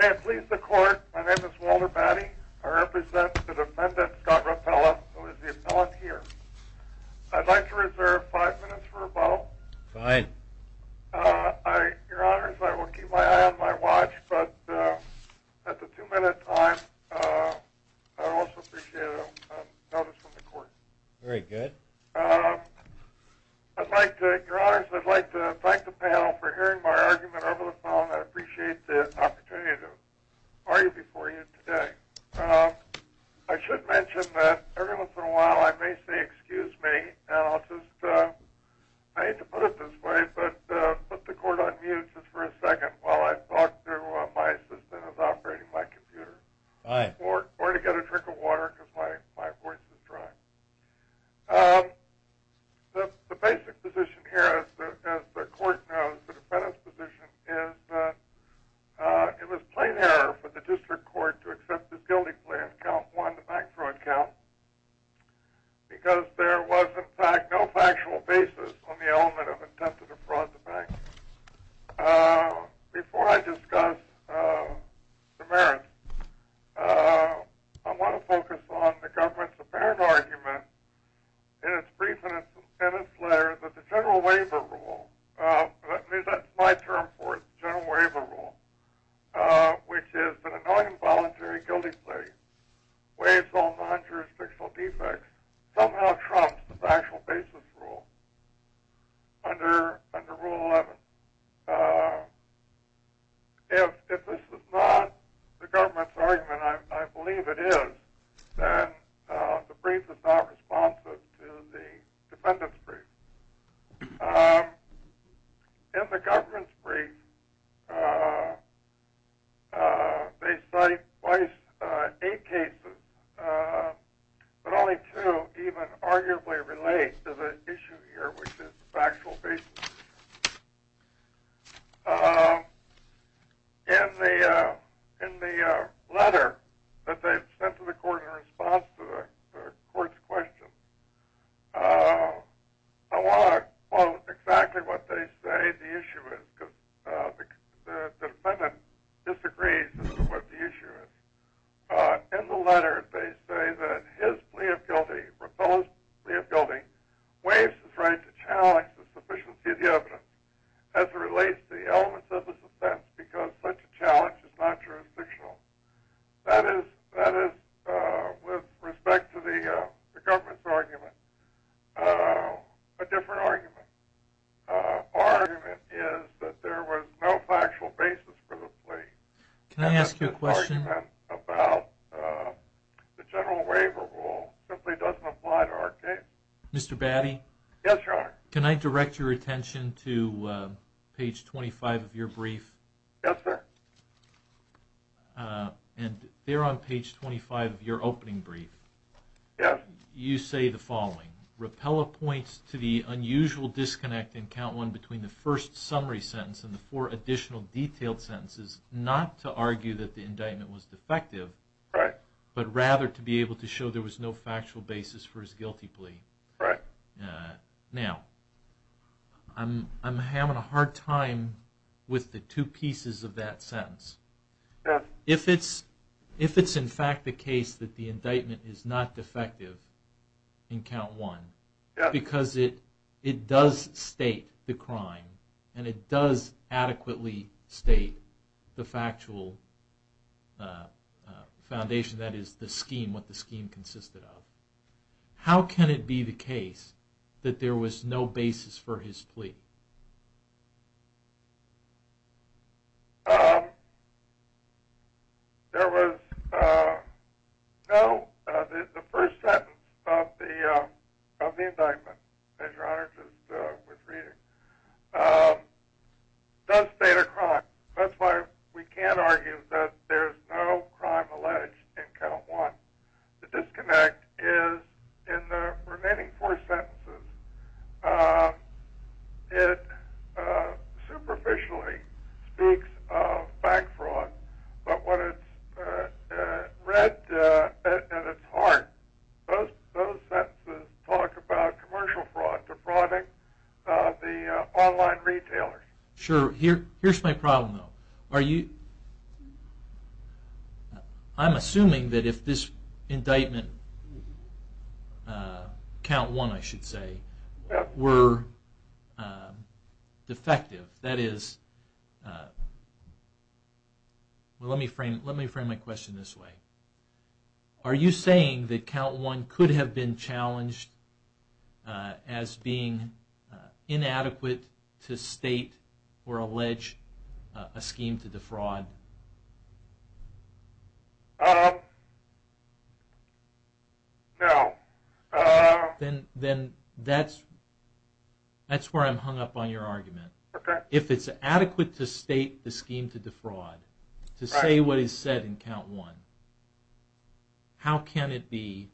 May it please the court, my name is Walter Batty. I represent the defendant, Scott Rapella, who is the appellant here. I'd like to reserve five minutes for rebuttal. Your honors, I will keep my eye on my watch, but at the two minute time, I'd also appreciate a notice from the court. Your honors, I'd like to thank the panel for hearing my argument over the phone. I appreciate the opportunity to argue before you today. I should mention that every once in a while I may say excuse me, and I'll just, I hate to put it this way, but put the court on mute just for a second while I talk to my assistant who is operating my computer. Or to get a drink of water because my voice is dry. The basic position here, as the court knows, the defendant's position is that it was plain error for the district court to accept this guilty plan, count one, the bank fraud count. Because there was in fact no factual basis on the element of intent to defraud the bank. Before I discuss the merits, I want to focus on the government's apparent argument in its brief and in its letter that the general waiver rule, at least that's my term for it, the general waiver rule, which is an annoying voluntary guilty plea, waives all non-jurisdictional defects, somehow trumps the factual basis rule under rule 11. If this is not the government's argument, I believe it is, then the brief is not responsive to the defendant's brief. In the government's brief, they cite twice eight cases, but only two even arguably relate to the issue here, which is factual basis. In the letter that they've sent to the court in response to the court's question, I want to quote exactly what they say the issue is, because the defendant disagrees with what the issue is. In the letter, they say that his plea of guilty, proposed plea of guilty, waives his right to challenge the sufficiency of the evidence as it relates to the elements of his offense, because such a challenge is not jurisdictional. That is, with respect to the government's argument, a different argument. Our argument is that there was no factual basis for the plea. And that this argument about the general waiver rule simply doesn't apply to our case. Yes, Your Honor. Yes, sir. Yes. Right. Right. Yes. Yes. Yes. There was no, the first sentence of the indictment, as Your Honor just was reading, does state a crime. That's why we can't argue that there's no crime alleged in count one. The disconnect is in the remaining four sentences, it superficially speaks of bank fraud, but when it's read at its heart, those sentences talk about commercial fraud, the fraud of the online retailer. Sure, here's my problem though. Are you, I'm assuming that if this indictment, count one I should say, were defective, that is, let me frame my question this way. Are you saying that count one could have been challenged as being inadequate to state or allege a scheme to defraud? Then that's where I'm hung up on your argument. Okay. If it's adequate to state the scheme to defraud, to say what is said in count one, how can it be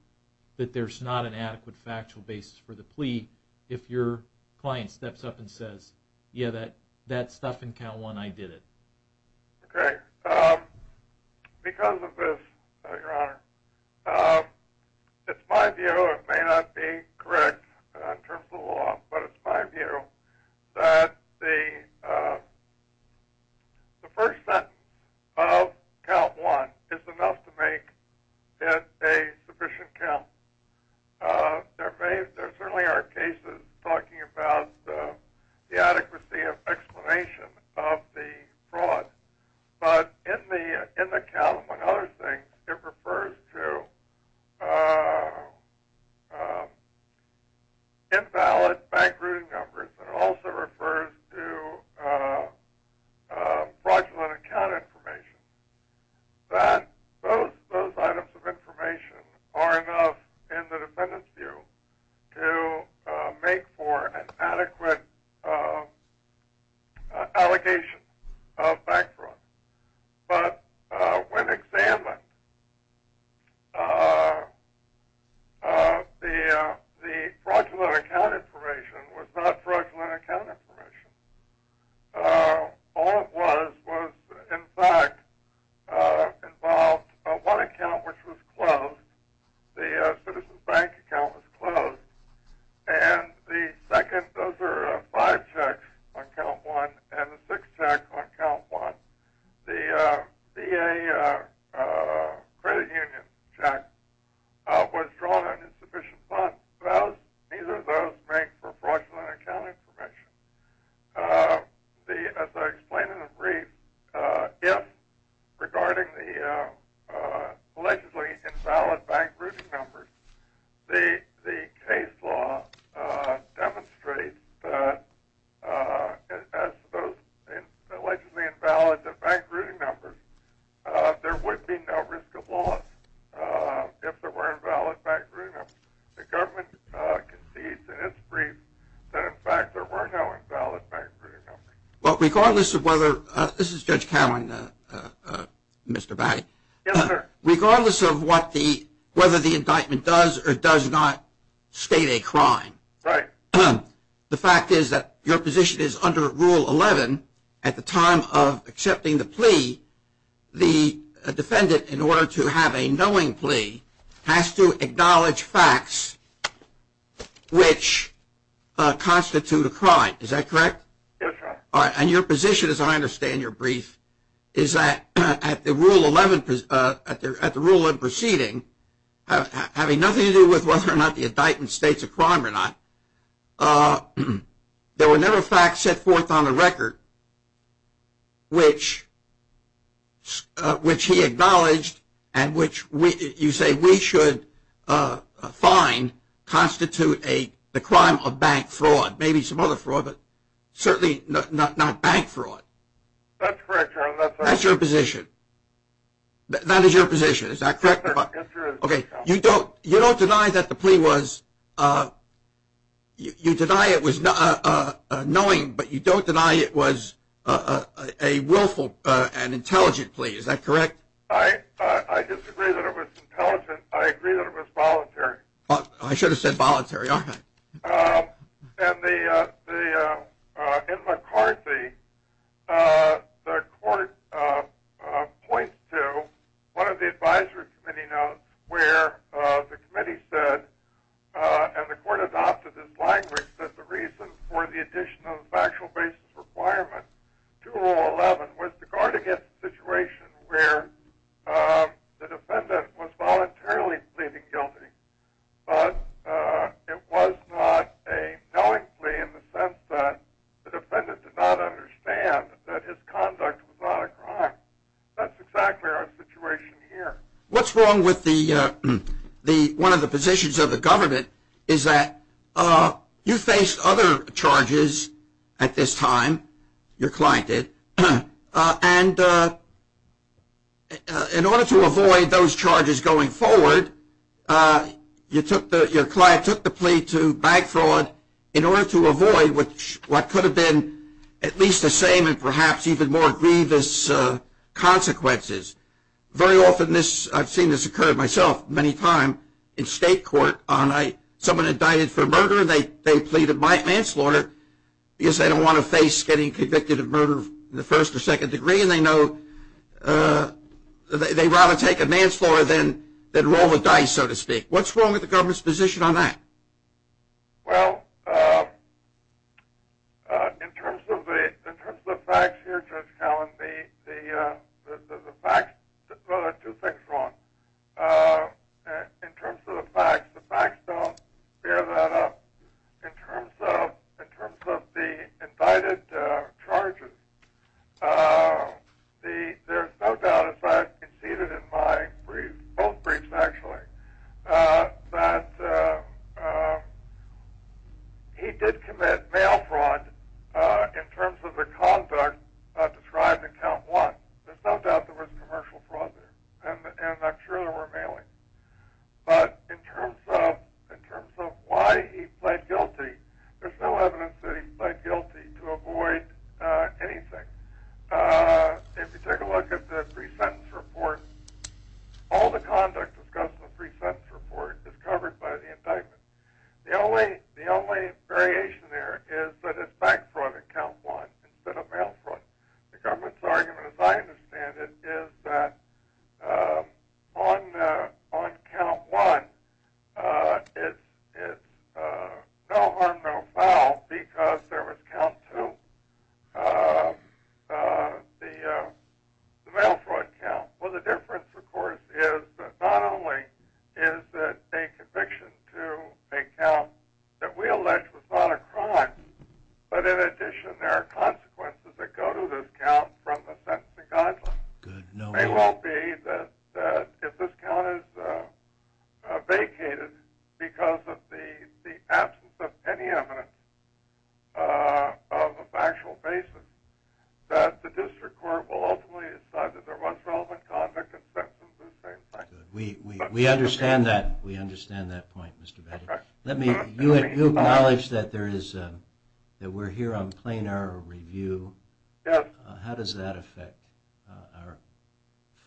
that there's not an adequate factual basis for the plea if your client steps up and says, yeah, that stuff in count one, I did it. Okay. Because of this, Your Honor, it's my view, it may not be correct in terms of the law, but it's my view that the first sentence of count one is enough to make it a sufficient count. There may, there certainly are cases talking about the adequacy of explanation of the fraud. But in the count one other thing, it refers to invalid bank routing numbers, and it also refers to fraudulent account information. Those items of information are enough in the defendant's view to make for an adequate allegation of bank fraud. But when examined, the fraudulent account information was not fraudulent account information. All it was was, in fact, involved one account which was closed, the citizen bank account was closed, and the second, those are five checks on count one, and the sixth check on count one, the VA credit union check, was drawn on insufficient funds. Neither of those make for fraudulent account information. As I explained in the brief, if, regarding the allegedly invalid bank routing numbers, the case law demonstrates that as those allegedly invalid bank routing numbers, there would be no risk of loss if there were invalid bank routing numbers. The government concedes in its brief that, in fact, there were no invalid bank routing numbers. There were no facts which constitute a crime. Is that correct? That's right. All right. And your position, as I understand your brief, is that at the Rule 11 proceeding, having nothing to do with whether or not the indictment states a crime or not, there were never facts set forth on the record which he acknowledged and which you say, we should find constitute the crime of bank fraud. Maybe some other fraud, but certainly not bank fraud. That's correct, Your Honor. That's your position. That is your position. Is that correct? Yes, Your Honor. Okay. You don't deny that the plea was, you deny it was knowing, but you don't deny it was a willful and intelligent plea. Is that correct? I disagree that it was intelligent. I agree that it was voluntary. I should have said voluntary, aren't I? In McCarthy, the court points to one of the advisory committee notes where the committee said, and the court adopted this language, that the reason for the addition of the factual basis requirement to Rule 11 was to guard against a situation where the defendant was voluntarily pleading guilty. But it was not a knowing plea in the sense that the defendant did not understand that his conduct was not a crime. That's exactly our situation here. What's wrong with one of the positions of the government is that you face other charges at this time, your client did, and in order to avoid those charges going forward, your client took the plea to bank fraud in order to avoid what could have been at least the same and perhaps even more grievous consequences. Very often this, I've seen this occur myself many times in state court, someone indicted for murder and they plead manslaughter because they don't want to face getting convicted of murder in the first or second degree and they know they'd rather take a manslaughter than roll the dice, so to speak. What's wrong with the government's position on that? Well, in terms of the facts here, Judge Cowen, two things are wrong. In terms of the facts, the facts don't bear that up. In terms of the indicted charges, there's no doubt, as I conceded in both briefs actually, that he did commit mail fraud in terms of the conduct described in Count 1. There's no doubt there was commercial fraud there, and I'm sure there were mailings, but in terms of why he pled guilty, there's no evidence that he pled guilty to avoid anything. If you take a look at the pre-sentence report, all the conduct discussed in the pre-sentence report is covered by the indictment. The only variation there is that it's bank fraud in Count 1 instead of mail fraud. The government's argument, as I understand it, is that on Count 1, it's no harm, no foul because there was Count 2, the mail fraud count. Well, the difference, of course, is that not only is it a conviction to a count that we allege was not a crime, but in addition, there are consequences that go to this count from the sentencing guidelines. It won't be that if this count is vacated because of the absence of any evidence of a factual basis, that the district court will ultimately decide that there was relevant conduct and sentences in this case. We understand that. We understand that point, Mr. Baggett. You acknowledge that we're here on plain error review. How does that affect our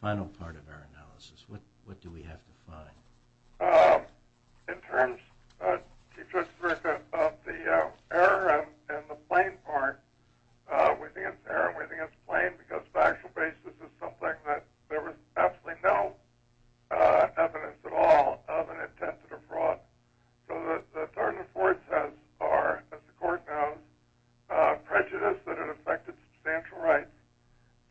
final part of our analysis? What do we have to find? In terms of the error and the plain part, we think it's error and we think it's plain because factual basis is something that there was absolutely no evidence at all of an attempted fraud. The third and fourth are, as the court knows, prejudice that it affected substantial rights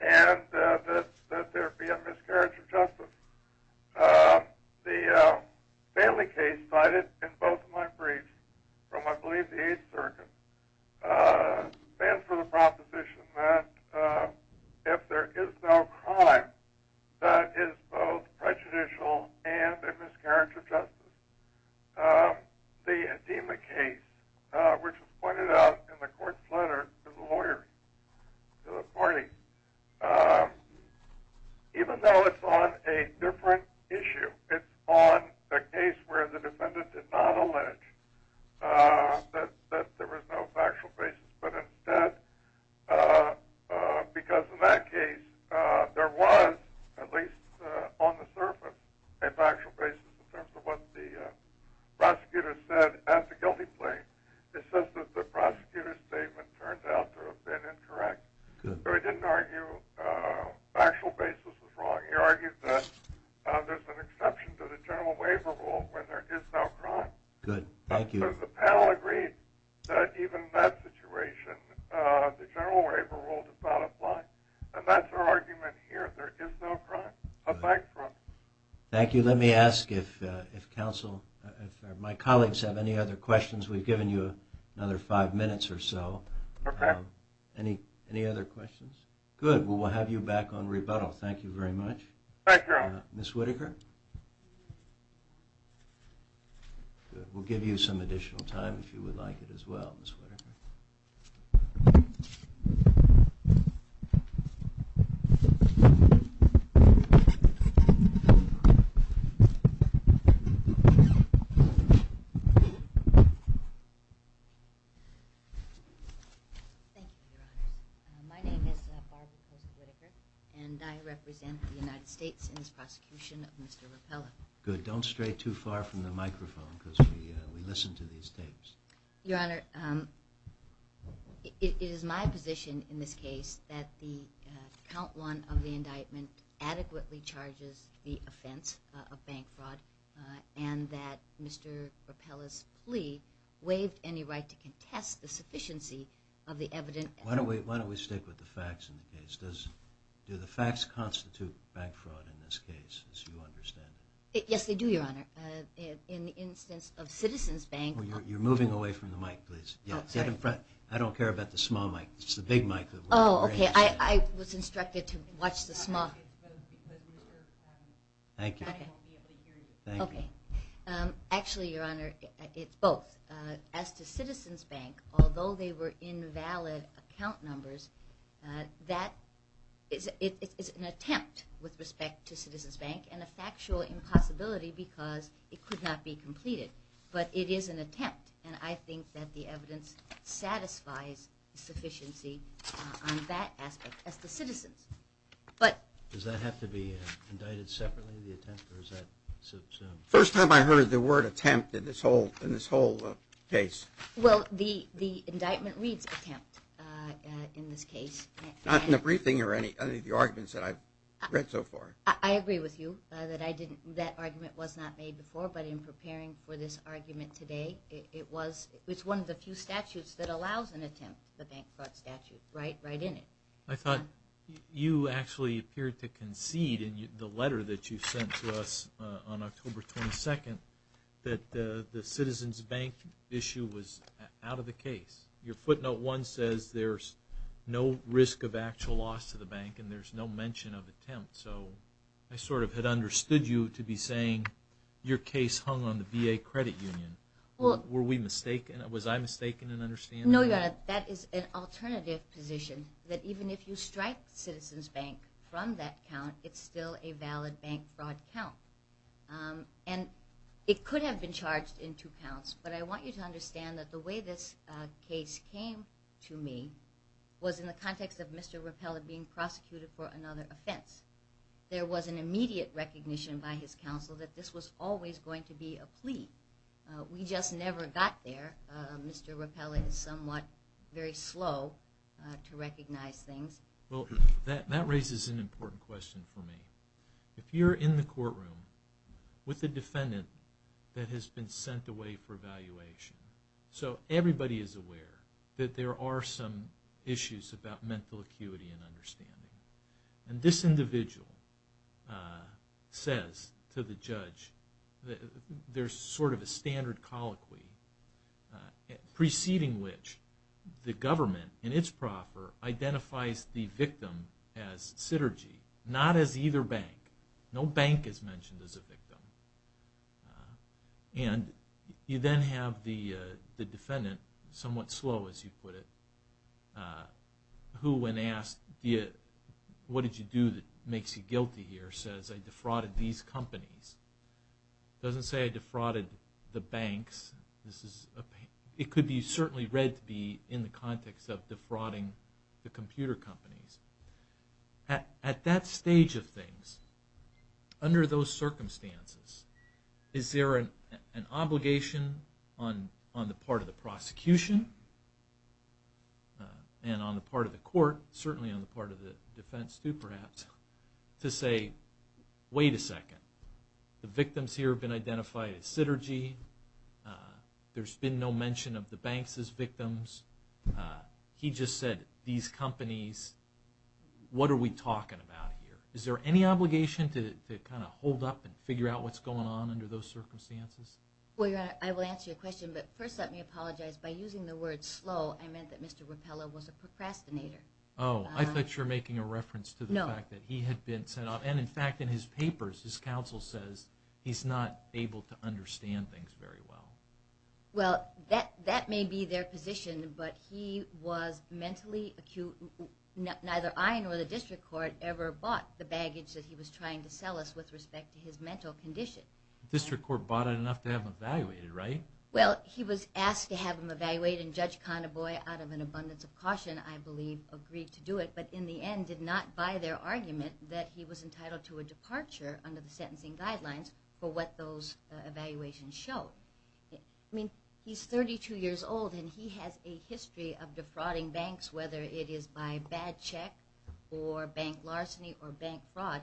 and that there be a miscarriage of justice. The family case cited in both of my briefs from I believe the 8th Circuit stands for the proposition that if there is no crime, that is both prejudicial and a miscarriage of justice. The Hedema case, which was pointed out in the court's letter to the lawyers, to the party, even though it's on a different issue, it's on a case where the defendant did not allege that there was no factual basis. But instead, because in that case there was, at least on the surface, a factual basis in terms of what the prosecutor said at the guilty plea, it says that the prosecutor's statement turned out to have been incorrect. So he didn't argue factual basis was wrong. He argued that there's an exception to the general waiver rule when there is no crime. So the panel agreed that even in that situation, the general waiver rule does not apply. And that's our argument here. There is no crime. A bank fraud. Thank you. Let me ask if my colleagues have any other questions. We've given you another five minutes or so. Any other questions? Good. Well, we'll have you back on rebuttal. Thank you very much. Thank you. Ms. Whitaker? We'll give you some additional time if you would like it as well, Ms. Whitaker. Thank you, Your Honor. My name is Barbara Post Whitaker, and I represent the United States in this prosecution of Mr. Rapallo. Good. Don't stray too far from the microphone, because we listen to these tapes. Your Honor, it is my position in this case that the count one of the indictment adequately charges the offense of bank fraud, and that Mr. Rapallo's plea waived any right to contest the sufficiency of the evidence. Why don't we stick with the facts in the case? Do the facts constitute bank fraud in this case, as you understand? Yes, they do, Your Honor. In the instance of Citizens Bank... You're moving away from the mic, please. Get in front. I don't care about the small mic. It's the big mic. Oh, okay. I was instructed to watch the small... Thank you. Actually, Your Honor, it's both. As to Citizens Bank, although they were invalid account numbers, that is an attempt with respect to Citizens Bank, and a factual impossibility because it could not be completed. But it is an attempt, and I think that the evidence satisfies the sufficiency on that aspect as to Citizens. Does that have to be indicted separately, the attempt, or is that... First time I heard the word attempt in this whole case. Well, the indictment reads attempt in this case. Not in the briefing or any of the arguments that I've read so far. I agree with you that that argument was not made before, but in preparing for this argument today, it's one of the few statutes that allows an attempt, the bank fraud statute, right in it. I thought you actually appeared to concede in the letter that you sent to us on October 22nd that the Citizens Bank issue was out of the case. Your footnote 1 says there's no risk of actual loss to the bank, and there's no mention of attempt. So I sort of had understood you to be saying your case hung on the VA Credit Union. Were we mistaken? Was I mistaken in understanding that? No, Your Honor, that is an alternative position, that even if you strike Citizens Bank from that count, it's still a valid bank fraud count. And it could have been charged in two counts, but I want you to understand that the way this case came to me was in the context of Mr. Rapella being prosecuted for another offense. There was an immediate recognition by his counsel that this was always going to be a plea. We just never got there. Mr. Rapella is somewhat very slow to recognize things. Well, that raises an important question for me. If you're in the courtroom with a defendant that has been sent away for evaluation, so everybody is aware that there are some issues about mental acuity and understanding. And this individual says to the judge, there's sort of a standard colloquy preceding which the government in its proffer identifies the victim as Sytergy, not as either bank. No bank is mentioned as a victim. And you then have the defendant, somewhat slow as you put it, who when asked, what did you do that makes you guilty here, says I defrauded these companies. It doesn't say I defrauded the banks. It could be certainly read to be in the context of defrauding the computer companies. At that stage of things, under those circumstances, is there an obligation on the part of the prosecution and on the part of the court, certainly on the part of the defense too perhaps, to say, wait a second. The victims here have been identified as Sytergy. There's been no mention of the banks as victims. He just said, these companies, what are we talking about here? Is there any obligation to kind of hold up and figure out what's going on under those circumstances? Well, Your Honor, I will answer your question, but first let me apologize. By using the word slow, I meant that Mr. Rapallo was a procrastinator. Oh, I thought you were making a reference to the fact that he had been sent off. And in fact, in his papers, his counsel says he's not able to understand things very well. Well, that may be their position, but he was mentally acute. Neither I nor the district court ever bought the baggage that he was trying to sell us with respect to his mental condition. The district court bought it enough to have him evaluated, right? Well, he was asked to have him evaluated, and Judge Condaboy, out of an abundance of caution, I believe, agreed to do it. But in the end, did not buy their argument that he was entitled to a departure under the sentencing guidelines for what those evaluations showed. I mean, he's 32 years old, and he has a history of defrauding banks, whether it is by bad check or bank larceny or bank fraud.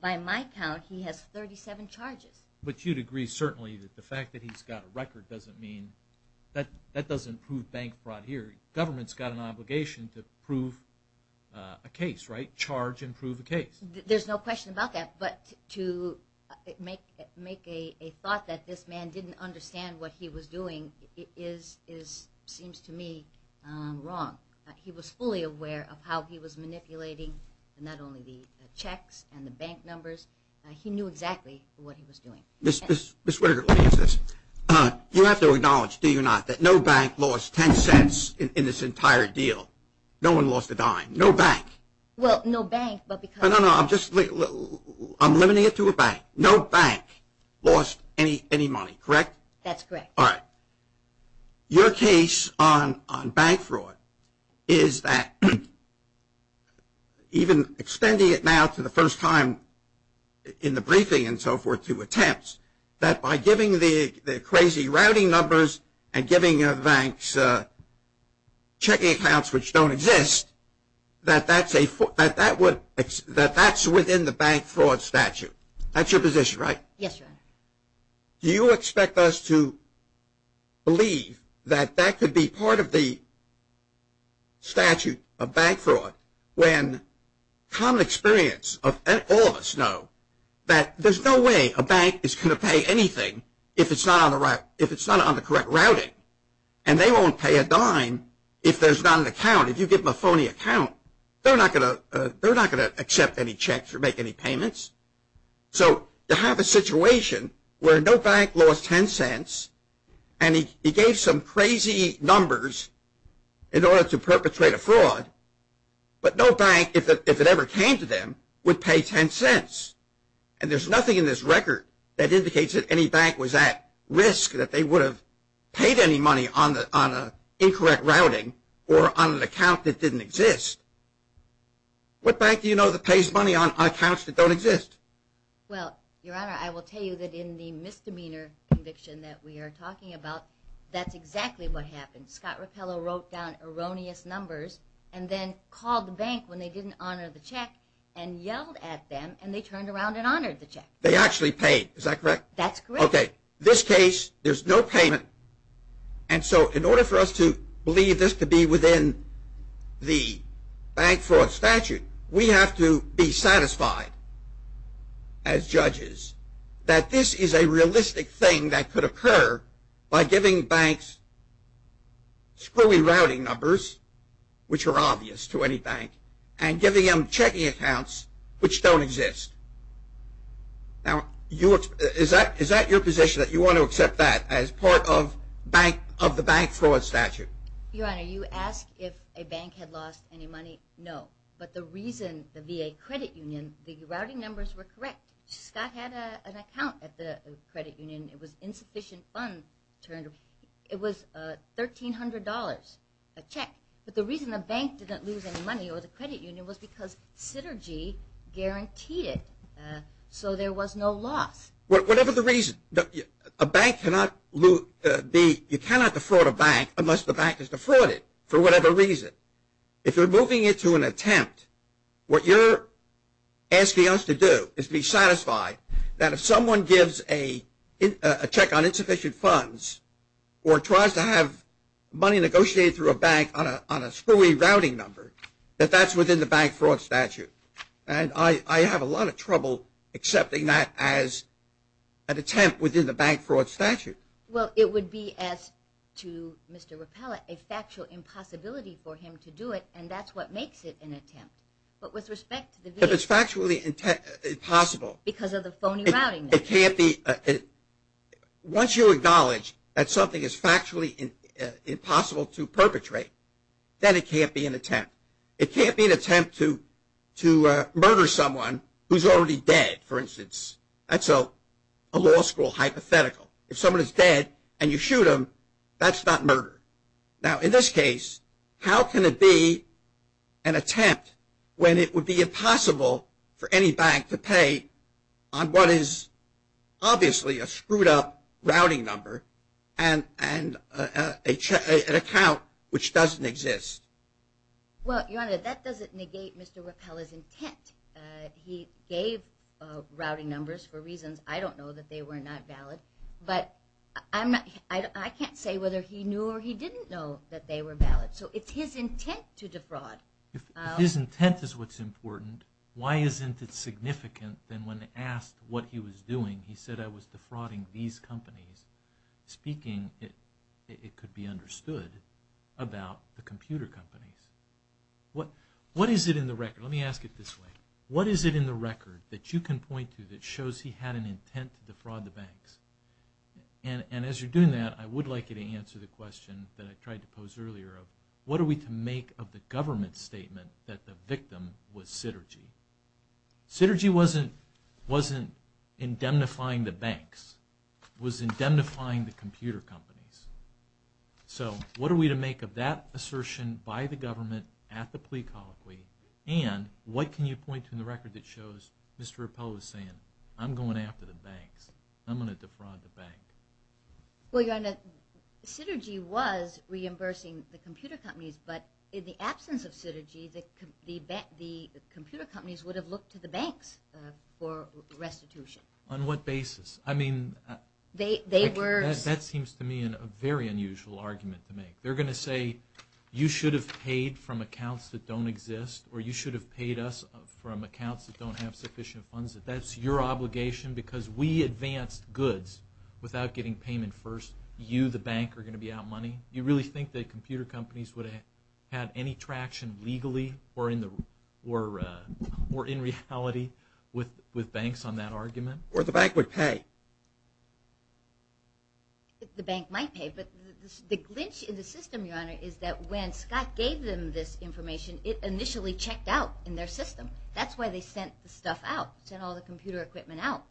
By my count, he has 37 charges. But you'd agree, certainly, that the fact that he's got a record doesn't mean, that doesn't prove bank fraud here. Government's got an obligation to prove a case, right? Charge and prove a case. There's no question about that, but to make a thought that this man didn't understand what he was doing is, seems to me, wrong. He was fully aware of how he was manipulating not only the checks and the bank numbers, he knew exactly what he was doing. Ms. Whitaker, let me ask this. You have to acknowledge, do you not, that no bank lost 10 cents in this entire deal? No one lost a dime. No bank. Well, no bank, but because... No, no, I'm limiting it to a bank. No bank lost any money, correct? That's correct. All right. Your case on bank fraud is that, even extending it now to the first time in the briefing and so forth to attempts, that by giving the crazy routing numbers and giving the banks checking accounts which don't exist, that that's within the bank fraud statute. That's your position, right? Yes, sir. Do you expect us to believe that that could be part of the statute of bank fraud, when common experience of all of us know that there's no way a bank is going to pay anything if it's not on the correct routing, and they won't pay a dime if there's not an account. If you give them a phony account, they're not going to accept any checks or make any payments. So you have a situation where no bank lost 10 cents, and he gave some crazy numbers in order to perpetrate a fraud, but no bank, if it ever came to them, would pay 10 cents. And there's nothing in this record that indicates that any bank was at risk, that they would have paid any money on an incorrect routing or on an account that didn't exist. What bank do you know that pays money on accounts that don't exist? Well, Your Honor, I will tell you that in the misdemeanor conviction that we are talking about, that's exactly what happened. Scott Rapallo wrote down erroneous numbers and then called the bank when they didn't honor the check and yelled at them, and they turned around and honored the check. They actually paid. Is that correct? That's correct. Okay. This case, there's no payment, and so in order for us to believe this to be within the bank fraud statute, we have to be satisfied as judges that this is a realistic thing that could occur by giving banks screwy routing numbers, which are obvious to any bank, and giving them checking accounts which don't exist. Now, is that your position, that you want to accept that as part of the bank fraud statute? Your Honor, you ask if a bank had lost any money? No. But the reason the VA credit union, the routing numbers were correct. Scott had an account at the credit union. It was insufficient funds. It was $1,300, a check. But the reason the bank didn't lose any money or the credit union was because Synergy guaranteed it, so there was no loss. Whatever the reason, you cannot defraud a bank unless the bank has defrauded for whatever reason. If you're moving it to an attempt, what you're asking us to do is be satisfied that if someone gives a check on insufficient funds or tries to have money negotiated through a bank on a screwy routing number, that that's within the bank fraud statute. And I have a lot of trouble accepting that as an attempt within the bank fraud statute. Well, it would be, as to Mr. Rapella, a factual impossibility for him to do it, and that's what makes it an attempt. But with respect to the VA. If it's factually possible. Because of the phony routing numbers. It can't be. Once you acknowledge that something is factually impossible to perpetrate, then it can't be an attempt. It can't be an attempt to murder someone who's already dead, for instance. That's a law school hypothetical. If someone is dead and you shoot them, that's not murder. Now, in this case, how can it be an attempt when it would be impossible for any bank to pay on what is obviously a screwed up routing number and an account which doesn't exist? Well, Your Honor, that doesn't negate Mr. Rapella's intent. He gave routing numbers for reasons I don't know that they were not valid. But I can't say whether he knew or he didn't know that they were valid. So it's his intent to defraud. If his intent is what's important, why isn't it significant that when asked what he was doing, he said, I was defrauding these companies? Speaking, it could be understood, about the computer companies. What is it in the record? Let me ask it this way. What is it in the record that you can point to that shows he had an intent to defraud the banks? And as you're doing that, I would like you to answer the question that I tried to pose earlier of, what are we to make of the government's statement that the victim was Sytergy? Sytergy wasn't indemnifying the banks. It was indemnifying the computer companies. So what are we to make of that assertion by the government at the plea colloquy? And what can you point to in the record that shows Mr. Rappel was saying, I'm going after the banks. I'm going to defraud the bank. Well, your Honor, Sytergy was reimbursing the computer companies, but in the absence of Sytergy, the computer companies would have looked to the banks for restitution. On what basis? I mean, that seems to me a very unusual argument to make. They're going to say you should have paid from accounts that don't exist or you should have paid us from accounts that don't have sufficient funds. That's your obligation because we advanced goods without getting payment first. You, the bank, are going to be out money. You really think that computer companies would have had any traction legally or in reality with banks on that argument? Or the bank would pay. The bank might pay, but the glitch in the system, your Honor, is that when Scott gave them this information, it initially checked out in their system. That's why they sent the stuff out, sent all the computer equipment out.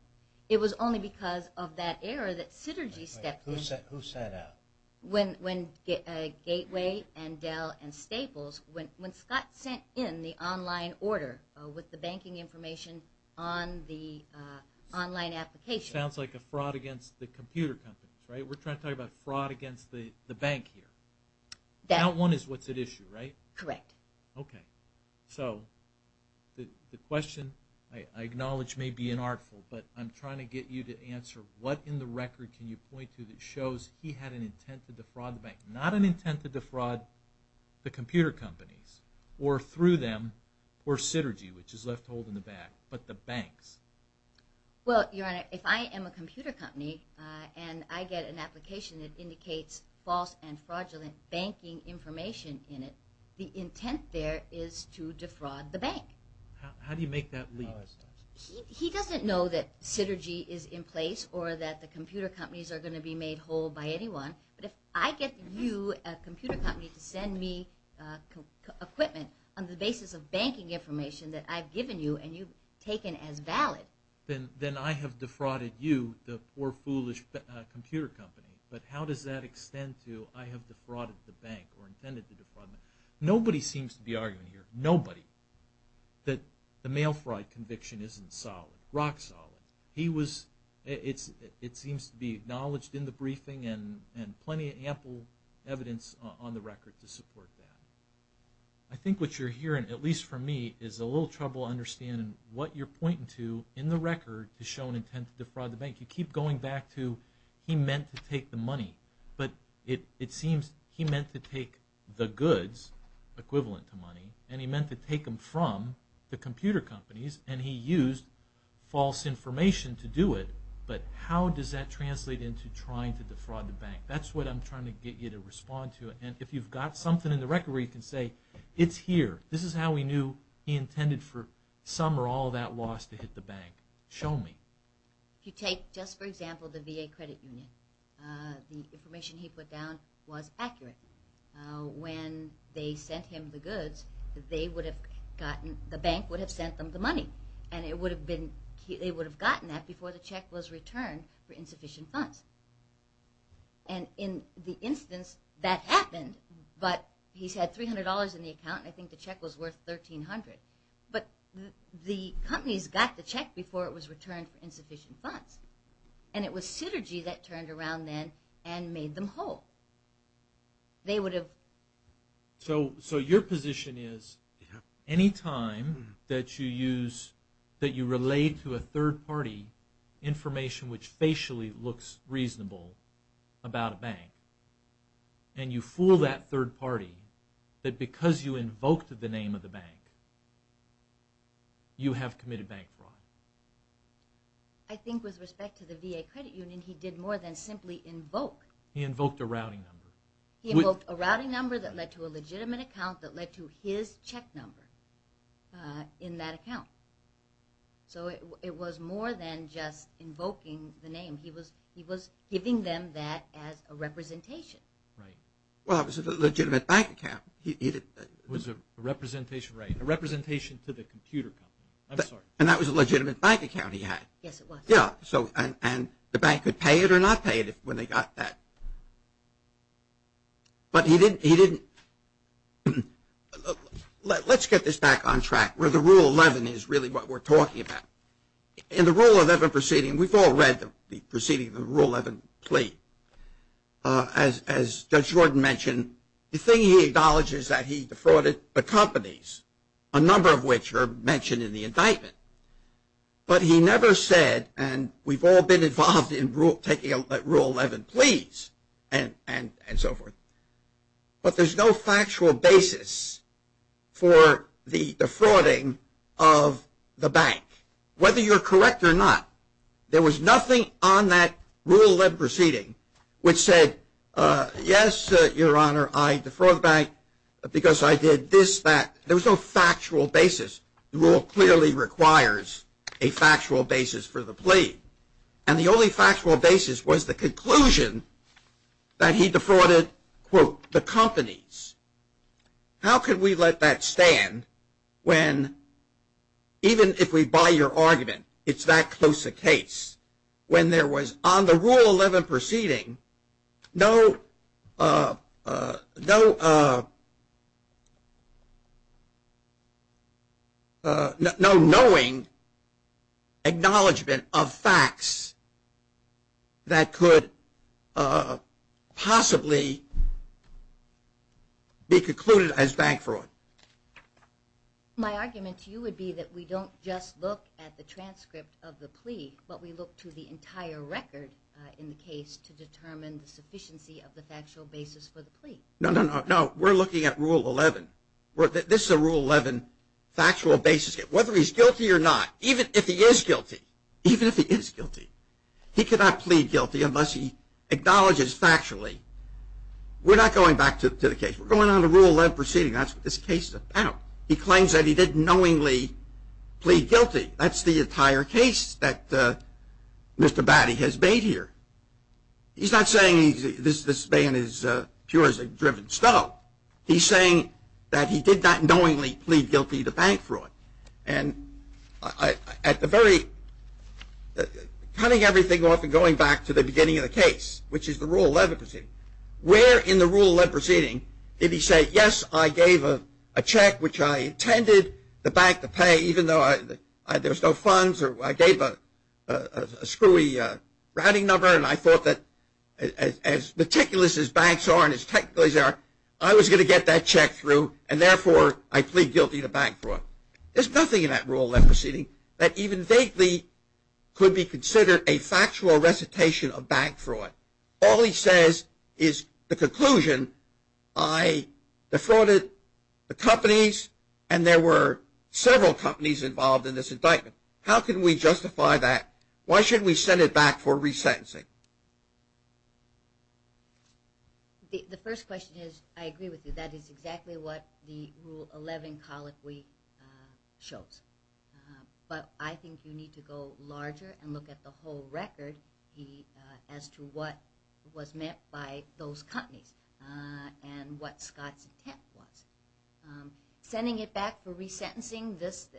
It was only because of that error that Sytergy stepped in. Who sent out? Gateway and Dell and Staples. When Scott sent in the online order with the banking information on the online application. Which sounds like a fraud against the computer companies, right? We're trying to talk about fraud against the bank here. That one is what's at issue, right? Correct. Okay. So the question I acknowledge may be inartful, but I'm trying to get you to answer what in the record can you point to that shows he had an intent to defraud the bank? Not an intent to defraud the computer companies or through them or Sytergy, which is left to hold in the back, but the banks. Well, your Honor, if I am a computer company and I get an application that indicates false and fraudulent banking information in it, the intent there is to defraud the bank. How do you make that legal? He doesn't know that Sytergy is in place or that the computer companies are going to be made whole by anyone, but if I get you, a computer company, to send me equipment on the basis of banking information that I've given you and you've taken as valid, then I have defrauded you, the poor, foolish computer company. But how does that extend to I have defrauded the bank or intended to defraud the bank? Nobody seems to be arguing here, nobody, that the mail fraud conviction isn't solid, rock solid. It seems to be acknowledged in the briefing and plenty of ample evidence on the record to support that. I think what you're hearing, at least for me, is a little trouble understanding what you're pointing to in the record to show an intent to defraud the bank. You keep going back to he meant to take the money, but it seems he meant to take the goods, equivalent to money, and he meant to take them from the computer companies and he used false information to do it. But how does that translate into trying to defraud the bank? That's what I'm trying to get you to respond to. And if you've got something in the record where you can say it's here, this is how we knew he intended for some or all of that loss to hit the bank, show me. If you take, just for example, the VA Credit Union, the information he put down was accurate. When they sent him the goods, the bank would have sent them the money and they would have gotten that before the check was returned for insufficient funds. And in the instance that happened, but he's had $300 in the account and I think the check was worth $1,300, but the companies got the check before it was returned for insufficient funds. And it was Synergy that turned around then and made them whole. They would have... So your position is any time that you use, that you relate to a third party information which facially looks reasonable about a bank, and you fool that third party that because you invoked the name of the bank, you have committed bank fraud. I think with respect to the VA Credit Union, he did more than simply invoke. He invoked a routing number. He invoked a routing number that led to a legitimate account that led to his check number in that account. So it was more than just invoking the name. He was giving them that as a representation. Right. Well, it was a legitimate bank account. It was a representation, right. A representation to the computer company. I'm sorry. And that was a legitimate bank account he had. Yes, it was. Yeah. And the bank could pay it or not pay it when they got that. But he didn't... Let's get this back on track where the Rule 11 is really what we're talking about. In the Rule 11 proceeding, we've all read the proceeding of the Rule 11 plea. As Judge Jordan mentioned, the thing he acknowledges that he defrauded the companies, a number of which are mentioned in the indictment. But he never said, and we've all been involved in taking Rule 11 pleas and so forth. But there's no factual basis for the defrauding of the bank. Whether you're correct or not, there was nothing on that Rule 11 proceeding which said, yes, Your Honor, I defrauded the bank because I did this, that. There was no factual basis. The Rule clearly requires a factual basis for the plea. And the only factual basis was the conclusion that he defrauded, quote, the companies. How could we let that stand when, even if we buy your argument, it's that close a case, when there was, on the Rule 11 proceeding, no knowing acknowledgement of facts that could possibly be concluded as bank fraud? My argument to you would be that we don't just look at the transcript of the plea, but we look to the entire record in the case to determine the sufficiency of the factual basis for the plea. No, no, no. We're looking at Rule 11. This is a Rule 11 factual basis. Whether he's guilty or not, even if he is guilty, even if he is guilty, he cannot plead guilty unless he acknowledges factually. We're not going back to the case. We're going on to Rule 11 proceeding. That's what this case is about. He claims that he did knowingly plead guilty. That's the entire case that Mr. Batty has made here. He's not saying this ban is pure as a driven stove. He's saying that he did not knowingly plead guilty to bank fraud. And at the very, cutting everything off and going back to the beginning of the case, which is the Rule 11 proceeding, where in the Rule 11 proceeding did he say, yes, I gave a check which I intended the bank to pay even though there was no funds or I gave a screwy routing number and I thought that as meticulous as banks are and as technical as they are, I was going to get that check through, and therefore I plead guilty to bank fraud. There's nothing in that Rule 11 proceeding that even vaguely could be considered a factual recitation of bank fraud. All he says is the conclusion, I defrauded the companies and there were several companies involved in this indictment. How can we justify that? Why shouldn't we send it back for resentencing? The first question is I agree with you. That is exactly what the Rule 11 colloquy shows. But I think you need to go larger and look at the whole record as to what was meant by those companies and what Scott's intent was. Sending it back for resentencing, this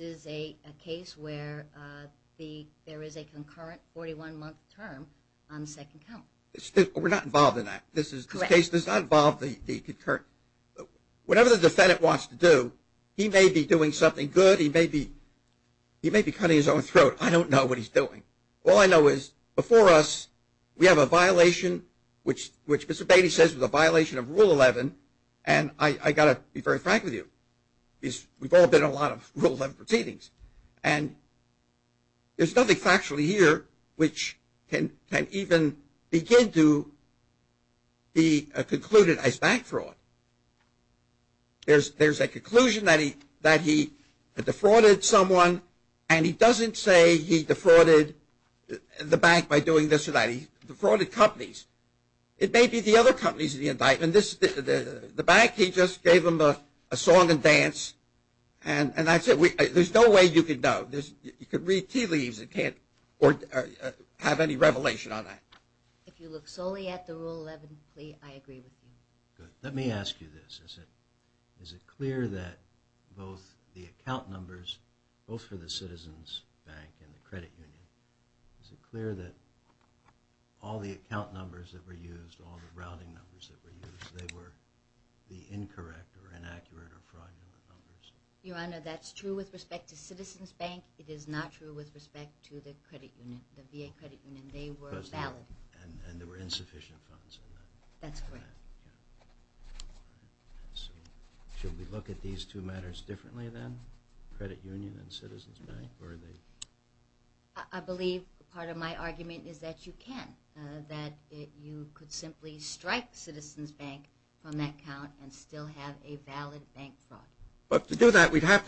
is a case where there is a concurrent 41-month term on the second count. We're not involved in that. This case does not involve the concurrent. Whatever the defendant wants to do, he may be doing something good. He may be cutting his own throat. I don't know what he's doing. All I know is before us we have a violation, which Mr. Beatty says was a violation of Rule 11, and I've got to be very frank with you. We've all been in a lot of Rule 11 proceedings. There's nothing factually here which can even begin to be concluded as bank fraud. There's a conclusion that he defrauded someone, and he doesn't say he defrauded the bank by doing this or that. He defrauded companies. It may be the other companies in the indictment. The bank, he just gave them a song and dance, and that's it. There's no way you could know. You could read tea leaves. It can't have any revelation on that. If you look solely at the Rule 11 plea, I agree with you. Good. Let me ask you this. Is it clear that both the account numbers, both for the Citizens Bank and the credit union, is it clear that all the account numbers that were used, all the routing numbers that were used, they were the incorrect or inaccurate or fraudulent numbers? Your Honor, that's true with respect to Citizens Bank. It is not true with respect to the credit union, the VA credit union. They were valid. And there were insufficient funds in that. That's correct. Should we look at these two matters differently then, credit union and Citizens Bank? I believe part of my argument is that you can, that you could simply strike Citizens Bank from that account and still have a valid bank fraud. But to do that, we'd have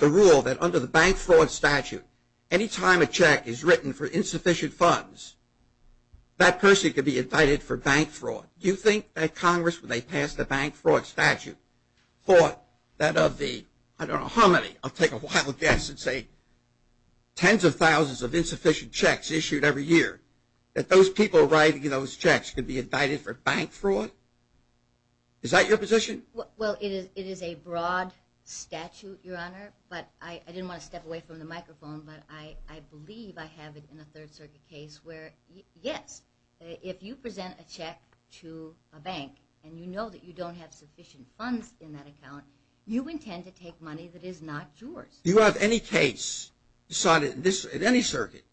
to rule that under the bank fraud statute, any time a check is written for insufficient funds, that person could be indicted for bank fraud. Do you think that Congress, when they passed the bank fraud statute, thought that of the, I don't know how many, I'll take a wild guess and say tens of thousands of insufficient checks issued every year, that those people writing those checks could be indicted for bank fraud? Is that your position? Well, it is a broad statute, Your Honor, but I didn't want to step away from the microphone, but I believe I have it in a Third Circuit case where, yes, if you present a check to a bank and you know that you don't have sufficient funds in that account, you intend to take money that is not yours. Do you have any case decided in any circuit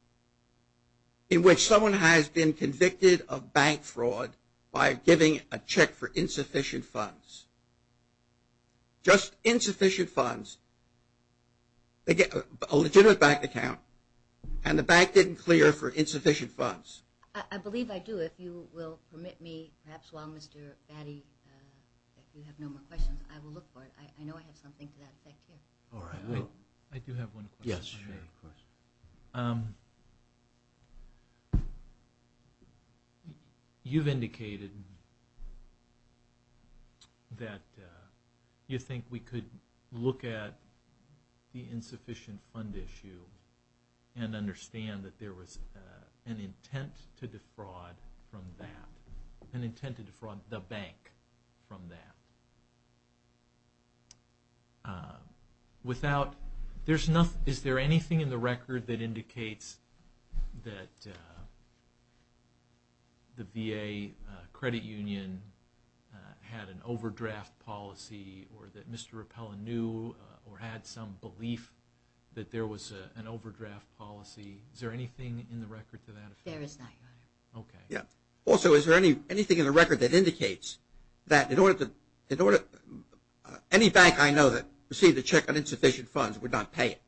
in which someone has been convicted of bank fraud by giving a check for insufficient funds? Just insufficient funds, a legitimate bank account, and the bank didn't clear for insufficient funds. I believe I do. If you will permit me, perhaps while Mr. Batty, if you have no more questions, I will look for it. I know I have something to that effect here. All right. I do have one question. Yes, sure. You've indicated that you think we could look at the insufficient fund issue and understand that there was an intent to defraud from that, an intent to defraud the bank from that. Is there anything in the record that indicates that the VA credit union had an overdraft policy or that Mr. Repella knew or had some belief that there was an overdraft policy? Is there anything in the record to that effect? There is not, Your Honor. Okay. Also, is there anything in the record that indicates that any bank I know that received a check on insufficient funds would not pay it?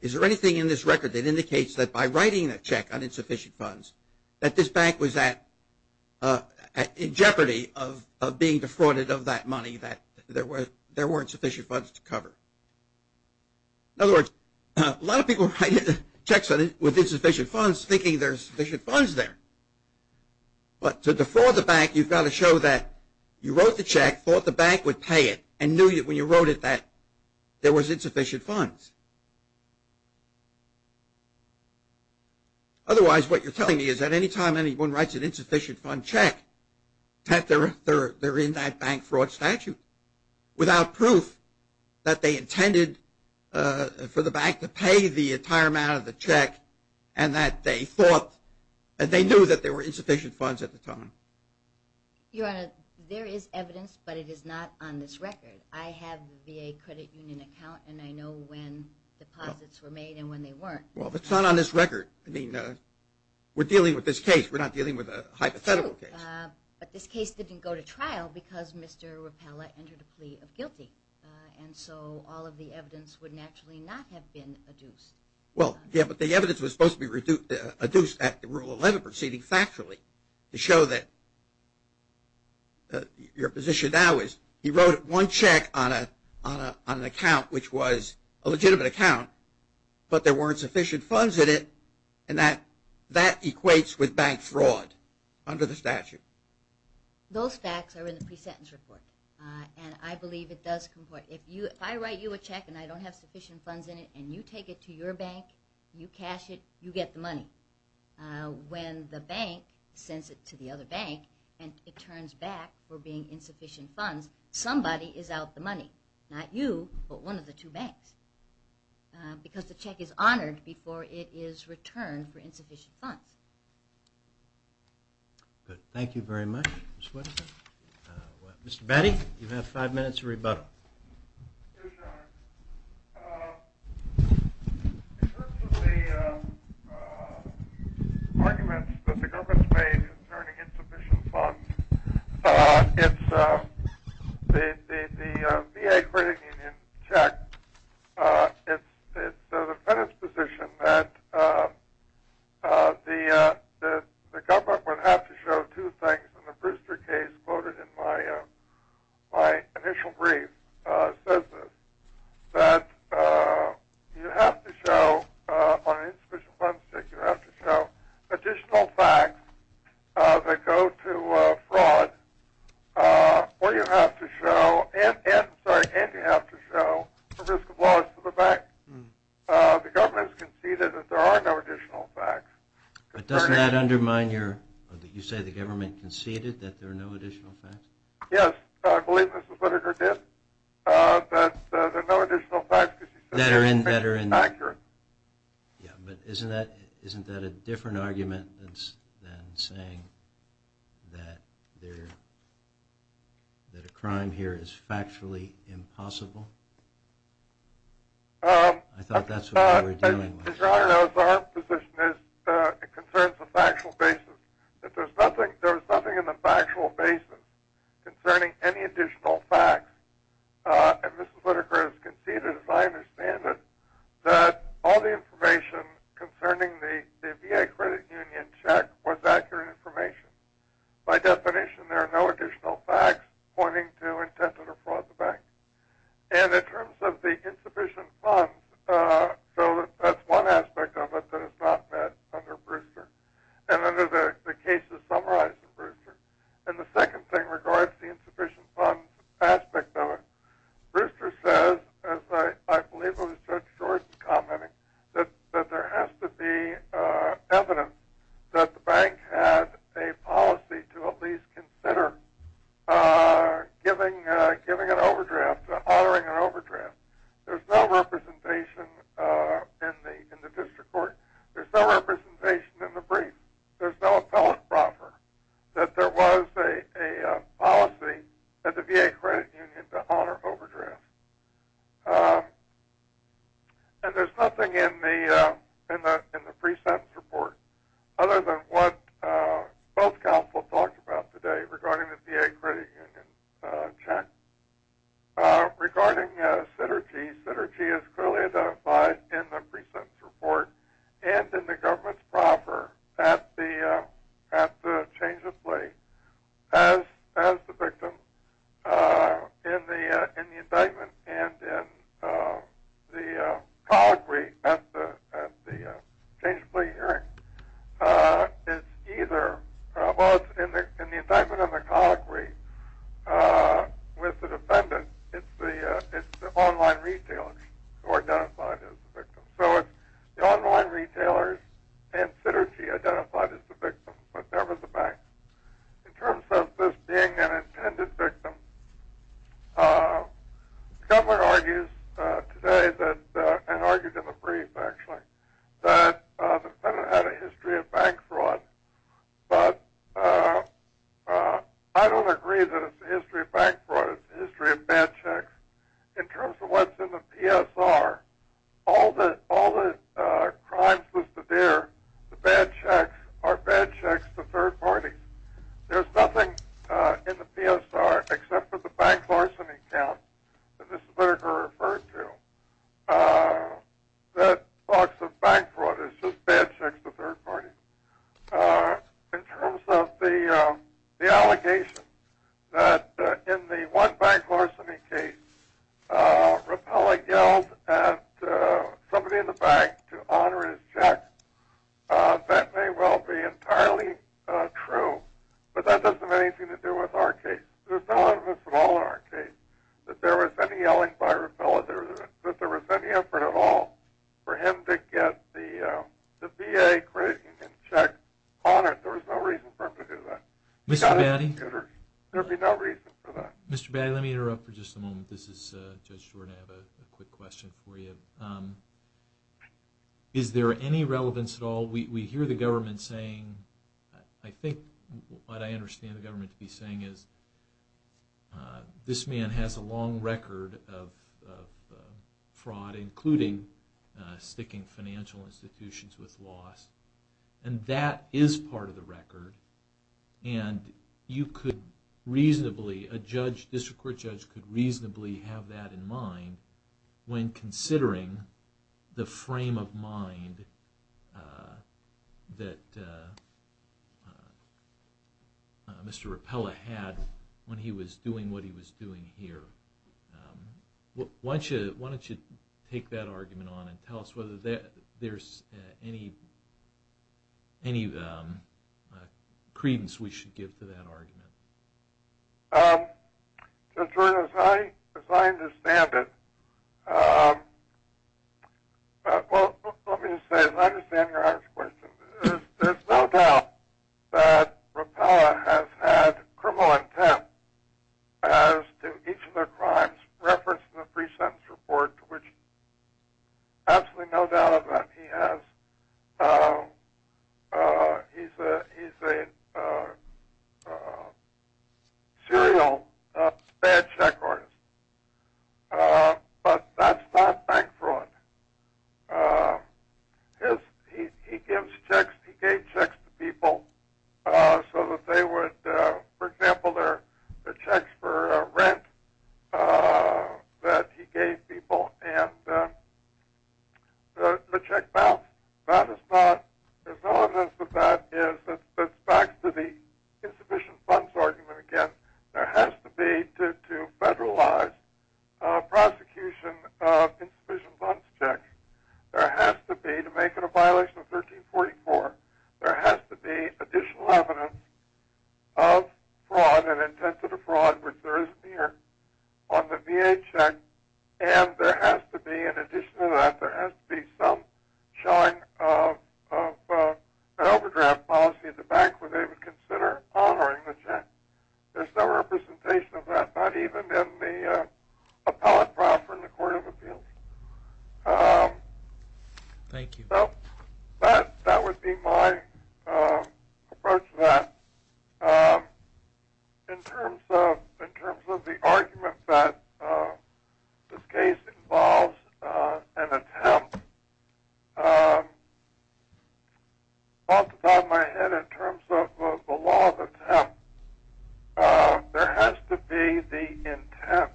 Is there anything in this record that indicates that by writing a check on insufficient funds, that this bank was in jeopardy of being defrauded of that money, that there weren't sufficient funds to cover? In other words, a lot of people write checks with insufficient funds thinking there's sufficient funds there. But to defraud the bank, you've got to show that you wrote the check, thought the bank would pay it, and knew when you wrote it that there was insufficient funds. Otherwise, what you're telling me is that any time anyone writes an insufficient fund check, that they're in that bank fraud statute without proof that they intended for the bank to pay the entire amount of the check and that they thought that they knew that there were insufficient funds at the time. Your Honor, there is evidence, but it is not on this record. I have the VA credit union account, and I know when deposits were made and when they weren't. Well, it's not on this record. I mean, we're dealing with this case. We're not dealing with a hypothetical case. True. But this case didn't go to trial because Mr. Rappella entered a plea of guilty, and so all of the evidence would naturally not have been adduced. Well, yeah, but the evidence was supposed to be adduced at Rule 11 proceeding factually to show that your position now is he wrote one check on an account which was a legitimate account, but there weren't sufficient funds in it, and that equates with bank fraud under the statute. Those facts are in the pre-sentence report, and I believe it does comport. If I write you a check and I don't have sufficient funds in it and you take it to your bank, you cash it, you get the money. When the bank sends it to the other bank and it turns back for being insufficient funds, somebody is out the money, not you but one of the two banks, because the check is honored before it is returned for insufficient funds. Thank you very much, Ms. Whitaker. Mr. Batty, you have five minutes to rebuttal. Yes, Your Honor. In terms of the arguments that the government has made concerning insufficient funds, it's the VA credit union check, it's the defendant's position that the government would have to show two things and the Brewster case quoted in my initial brief says this, that you have to show on an insufficient funds check you have to show additional facts that go to fraud and you have to show the risk of loss to the bank. The government has conceded that there are no additional facts. But doesn't that undermine your, you say the government conceded that there are no additional facts? Yes, I believe Ms. Whitaker did, that there are no additional facts. That are inaccurate. Yeah, but isn't that a different argument than saying that a crime here is factually impossible? I thought that's what we were dealing with. Your Honor, as our position is, it concerns the factual basis. There was nothing in the factual basis concerning any additional facts. And Ms. Whitaker has conceded, as I understand it, that all the information concerning the VA credit union check was accurate information. By definition, there are no additional facts pointing to intent to defraud the bank. And in terms of the insufficient funds, so that's one aspect of it that is not met under Brewster. And under the cases summarized in Brewster. And the second thing regards the insufficient funds aspect of it. Brewster says, as I believe it was Judge Shorten commenting, that there has to be evidence that the bank had a policy to at least consider giving an overdraft, honoring an overdraft. There's no representation in the district court. There's no representation in the brief. There's no appellate proffer that there was a policy at the VA credit union to honor overdrafts. And there's nothing in the pre-sentence report, other than what both counsel talked about today regarding the VA credit union check. Regarding Sytergy, Sytergy is clearly identified in the pre-sentence report and in the government's proffer at the change of plea as the victim in the indictment and in the colloquy at the change of plea hearing. In the indictment and the colloquy with the defendant, it's the online retailers who are identified as the victim. So it's the online retailers and Sytergy identified as the victim, but never the bank. In terms of this being an intended victim, the government argues today, and argued in the brief actually, that the defendant had a history of bank fraud. But I don't agree that it's a history of bank fraud. It's a history of bad checks. In terms of what's in the PSR, all the crimes listed there, the bad checks, are bad checks to third parties. There's nothing in the PSR, except for the bank larceny count, that talks of bank fraud. It's just bad checks to third parties. In terms of the allegation that in the one bank larceny case, Rappella yelled at somebody in the bank to honor his check, that may well be entirely true, but that doesn't have anything to do with our case. There's no evidence at all in our case that there was any yelling by Rappella, that there was any effort at all for him to get the VA credit union check on it. There was no reason for him to do that. Mr. Batty? There would be no reason for that. Mr. Batty, let me interrupt for just a moment. This is Judge Jordan. I have a quick question for you. Is there any relevance at all? We hear the government saying, I think what I understand the government to be saying is, this man has a long record of fraud, including sticking financial institutions with loss, and that is part of the record, and you could reasonably, a district court judge could reasonably have that in mind when considering the frame of mind that Mr. Rappella had when he was doing what he was doing here. Why don't you take that argument on and tell us whether there's any credence we should give to that argument. Judge Jordan, as I understand it, well, let me just say, as I understand your first question, there's no doubt that Rappella has had criminal intent as to each of their crimes, referenced in the pre-sentence report, absolutely no doubt of that. He has, he's a serial bad check artist, but that's not bank fraud. He gives checks, he gave checks to people so that they would, for example, the checks for rent that he gave people, and the check balance, that is not, there's no evidence of that, it's back to the insufficient funds argument again. There has to be, to federalize prosecution of insufficient funds checks, there has to be, to make it a violation of 1344, there has to be additional evidence of fraud and intent to the fraud, which there is here on the VA check, and there has to be, in addition to that, there has to be some showing of an overdraft policy at the bank where they would consider honoring the check. There's no representation of that, not even in the appellate file from the Court of Appeals. Thank you. So, that would be my approach to that. In terms of the argument that this case involves an attempt, off the top of my head, in terms of the law of attempt, there has to be the intent,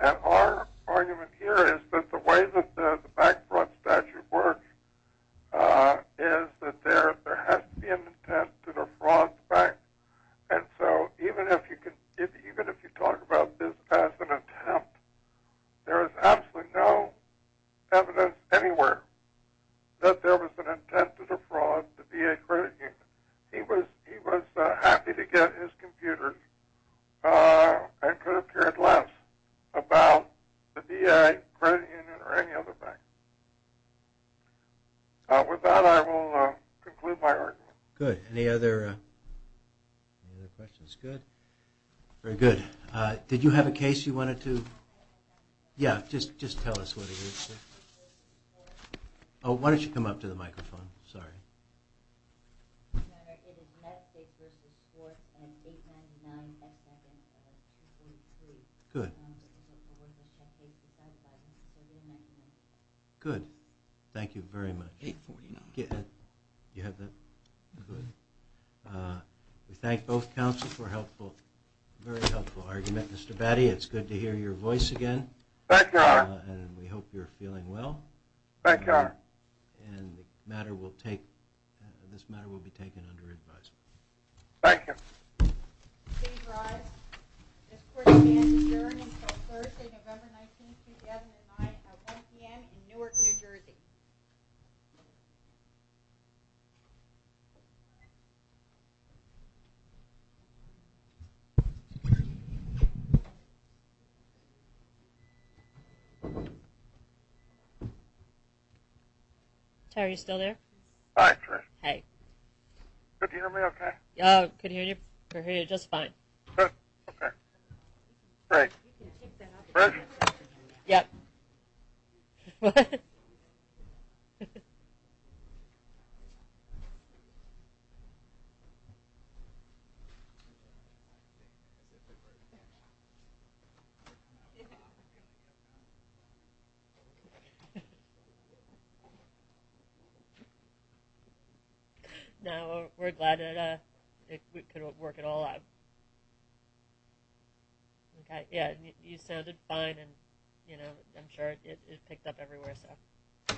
and our argument here is that the way that the bank fraud statute works is that there has to be an intent to defraud the bank. And so, even if you talk about this as an attempt, there is absolutely no evidence anywhere that there was an intent to defraud the VA credit union. He was happy to get his computer, and could have cared less about the VA credit union or any other bank. With that, I will conclude my argument. Good. Any other questions? Good. Very good. Did you have a case you wanted to... Yeah, just tell us what it is. Oh, why don't you come up to the microphone. Sorry. Your Honor, it is Metcalfe v. Schwartz and 899x7 of 842. Good. Good. Thank you very much. 849. You have that? Good. We thank both counsels for a very helpful argument. Mr. Batty, it's good to hear your voice again. And we hope you're feeling well. Thank you, Your Honor. And the matter will take... This matter will be taken under advisement. Thank you. Please rise. This court is adjourned until Thursday, November 19, 2009 at 1 p.m. in Newark, New Jersey. Terry, are you still there? Hi, Trish. Hey. Can you hear me okay? I can hear you just fine. Okay. Great. Trish? Yep. What? No, we're glad that we could work it all out. Okay. Yeah, you sounded fine and, you know, I'm sure it picked up everywhere, so...